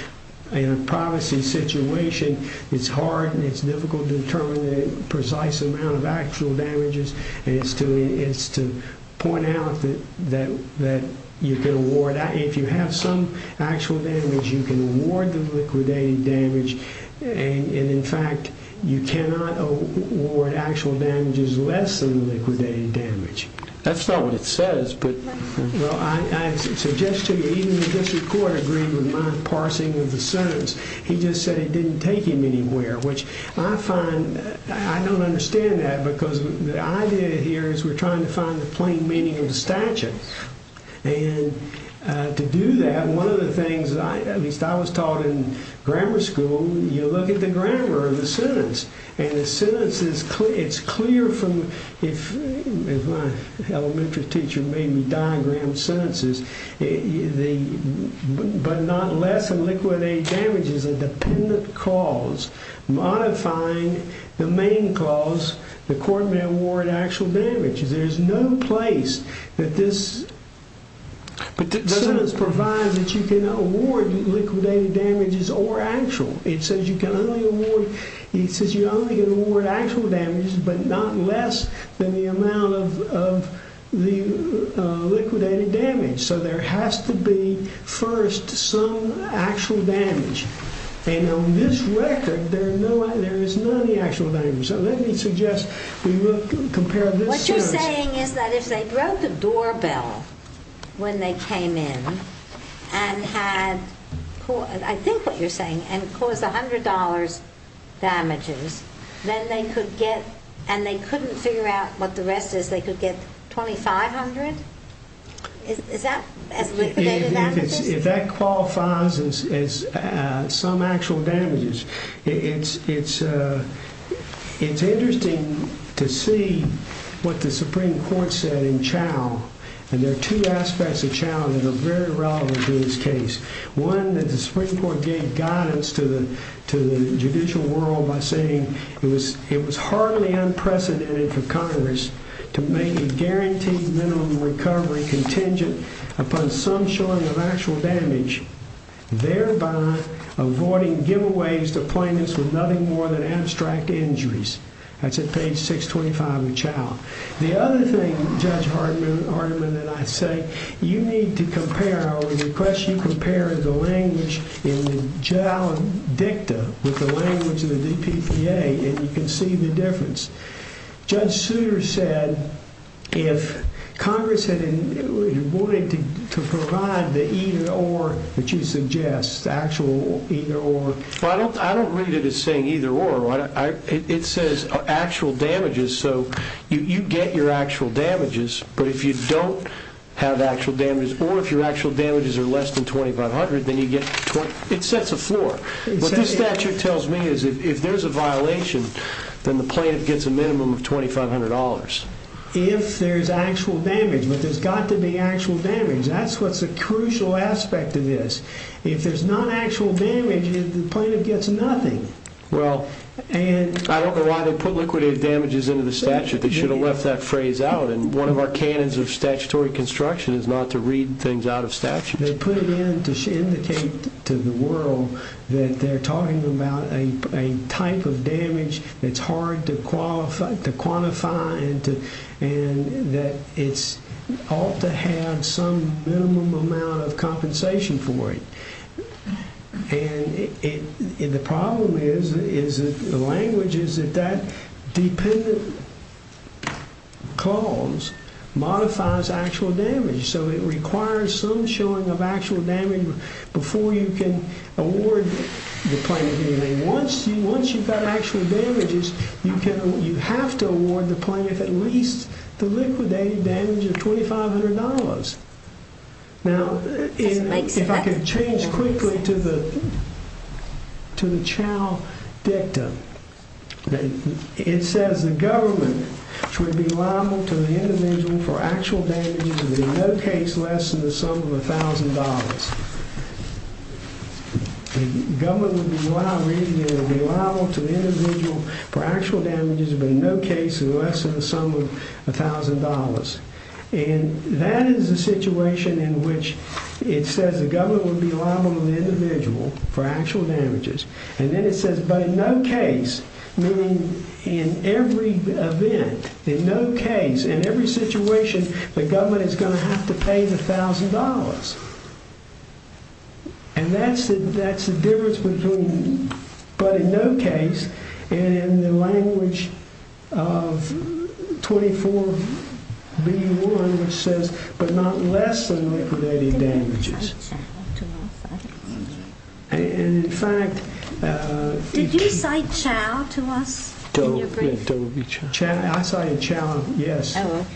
in a privacy situation, it's hard and it's difficult to determine the precise amount of actual damages. And it's to point out that you can award, if you have some actual damage, you can award the liquidated damage. And, in fact, you cannot award actual damages less than liquidated damage. That's not what it says, but... Well, I suggest to you, even if this court agreed with my parsing of the sentence, he just said it didn't take him anywhere, which I find... I don't understand that because the idea here is we're trying to find the plain meaning of the statute. And to do that, one of the things, at least I was taught in grammar school, you look at the grammar of the sentence, and the sentence is clear from... If my elementary teacher made me diagram sentences, the but not less than liquidated damage is a dependent cause, modifying the main cause, the court may award actual damages. There's no place that this sentence provides that you can award liquidated damages or actual. It says you can only award... It says you only can award actual damages but not less than the amount of the liquidated damage. So there has to be, first, some actual damage. And on this record, there is none, the actual damage. So let me suggest we compare this to... What you're saying is that if they broke the doorbell when they came in and had... I think what you're saying, and caused $100 damages, then they could get... And they couldn't figure out what the rest is, they could get $2,500? Is that as liquidated damages? If that qualifies as some actual damages. It's interesting to see what the Supreme Court said in Chau. And there are two aspects of Chau that are very relevant to this case. One, that the Supreme Court gave guidance to the judicial world by saying it was hardly unprecedented for Congress to make a guaranteed minimum recovery contingent upon some showing of actual damage, thereby avoiding giveaways to plaintiffs with nothing more than abstract injuries. That's at page 625 of Chau. The other thing, Judge Hardiman and I say, you need to compare, I would request you compare the language in the Chau dicta with the language in the DPPA, and you can see the difference. Judge Souter said if Congress wanted to provide the either-or that you suggest, the actual either-or... I don't read it as saying either-or. It says actual damages, so you get your actual damages. But if you don't have actual damages, or if your actual damages are less than $2,500, then you get... It sets a floor. What this statute tells me is if there's a violation, then the plaintiff gets a minimum of $2,500. If there's actual damage, but there's got to be actual damage. That's what's a crucial aspect of this. If there's not actual damage, the plaintiff gets nothing. Well, I don't know why they put liquidated damages into the statute. They should have left that phrase out. And one of our canons of statutory construction is not to read things out of statute. They put it in to indicate to the world that they're talking about a type of damage that's hard to quantify and that it ought to have some minimum amount of compensation for it. And the problem is that the language is that that dependent clause modifies actual damage. So it requires some showing of actual damage before you can award the plaintiff anything. Once you've got actual damages, you have to award the plaintiff at least the liquidated damage of $2,500. Now, if I could change quickly to the child dictum, it says the government should be liable to the individual for actual damages but in no case less than the sum of $1,000. The government would be liable to the individual for actual damages but in no case less than the sum of $1,000, and that is a situation in which it says the government would be liable to the individual for actual damages, and then it says but in no case, meaning in every event, in no case, in every situation, the government is going to have to pay the $1,000. And that's the difference between but in no case, and in the language of 24B1 which says but not less than liquidated damages. Did you cite Chao to us? I cited Chao, yes. Oh,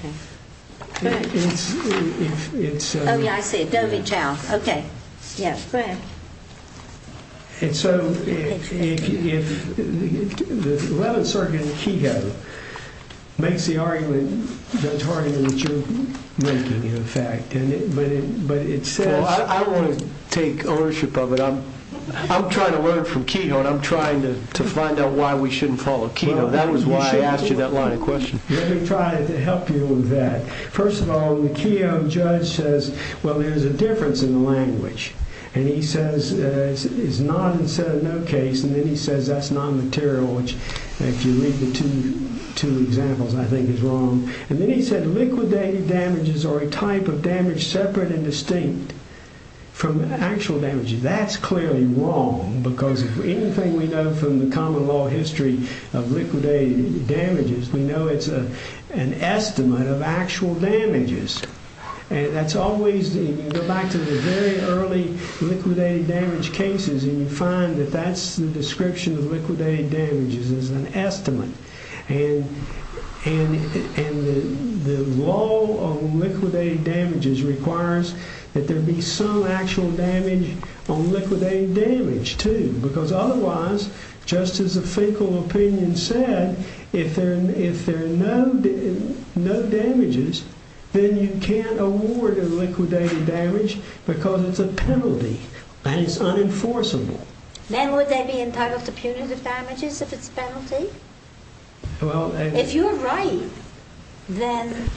yeah, I see, Dovi Chao. Okay, yeah, go ahead. And so if the 11th Circuit in Kehoe makes the argument that you're making, in fact, I want to take ownership of it. I'm trying to learn from Kehoe, and I'm trying to find out why we shouldn't follow Kehoe. That was why I asked you that line of question. Let me try to help you with that. First of all, the Kehoe judge says, well, there's a difference in the language, and he says it's not in said no case, and then he says that's non-material, which if you read the two examples, I think is wrong. And then he said liquidated damages are a type of damage separate and distinct from actual damages. That's clearly wrong because anything we know from the common law history of liquidated damages, we know it's an estimate of actual damages. And that's always, you go back to the very early liquidated damage cases, and you find that that's the description of liquidated damages is an estimate. And the law on liquidated damages requires that there be some actual damage on liquidated damage, too, because otherwise, just as a fecal opinion said, if there are no damages, then you can't award a liquidated damage because it's a penalty, and it's unenforceable. Then would they be entitled to punitive damages if it's a penalty? If you're right, then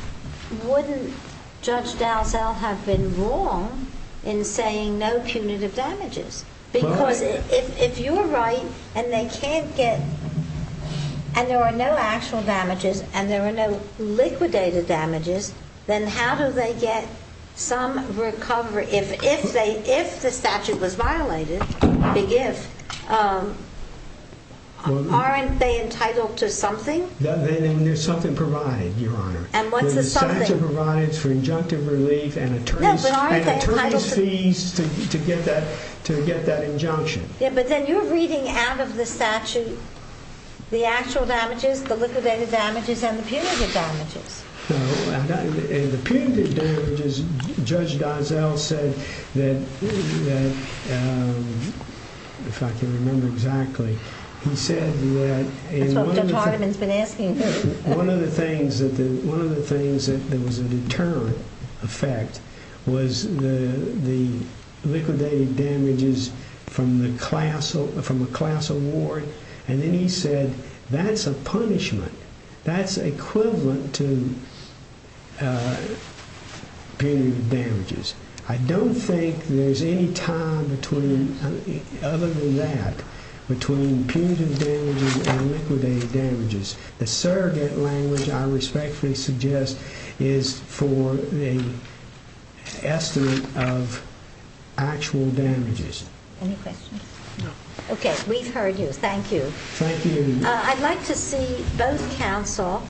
wouldn't Judge Dalzell have been wrong in saying no punitive damages? Because if you're right and they can't get, and there are no actual damages and there are no liquidated damages, then how do they get some recovery? If the statute was violated, big if, aren't they entitled to something? Then there's something provided, Your Honor. And what's the something? The statute provides for injunctive relief and attorneys' fees to get that injunction. Yeah, but then you're reading out of the statute the actual damages, the liquidated damages, and the punitive damages. The punitive damages, Judge Dalzell said that, if I can remember exactly, he said that one of the things that was a deterrent effect was the liquidated damages from the class award, and then he said that's a punishment. That's equivalent to punitive damages. I don't think there's any tie, other than that, between punitive damages and liquidated damages. The surrogate language, I respectfully suggest, is for the estimate of actual damages. Any questions? No. Okay, we've heard you. Thank you. Thank you. I'd like to see both counsel.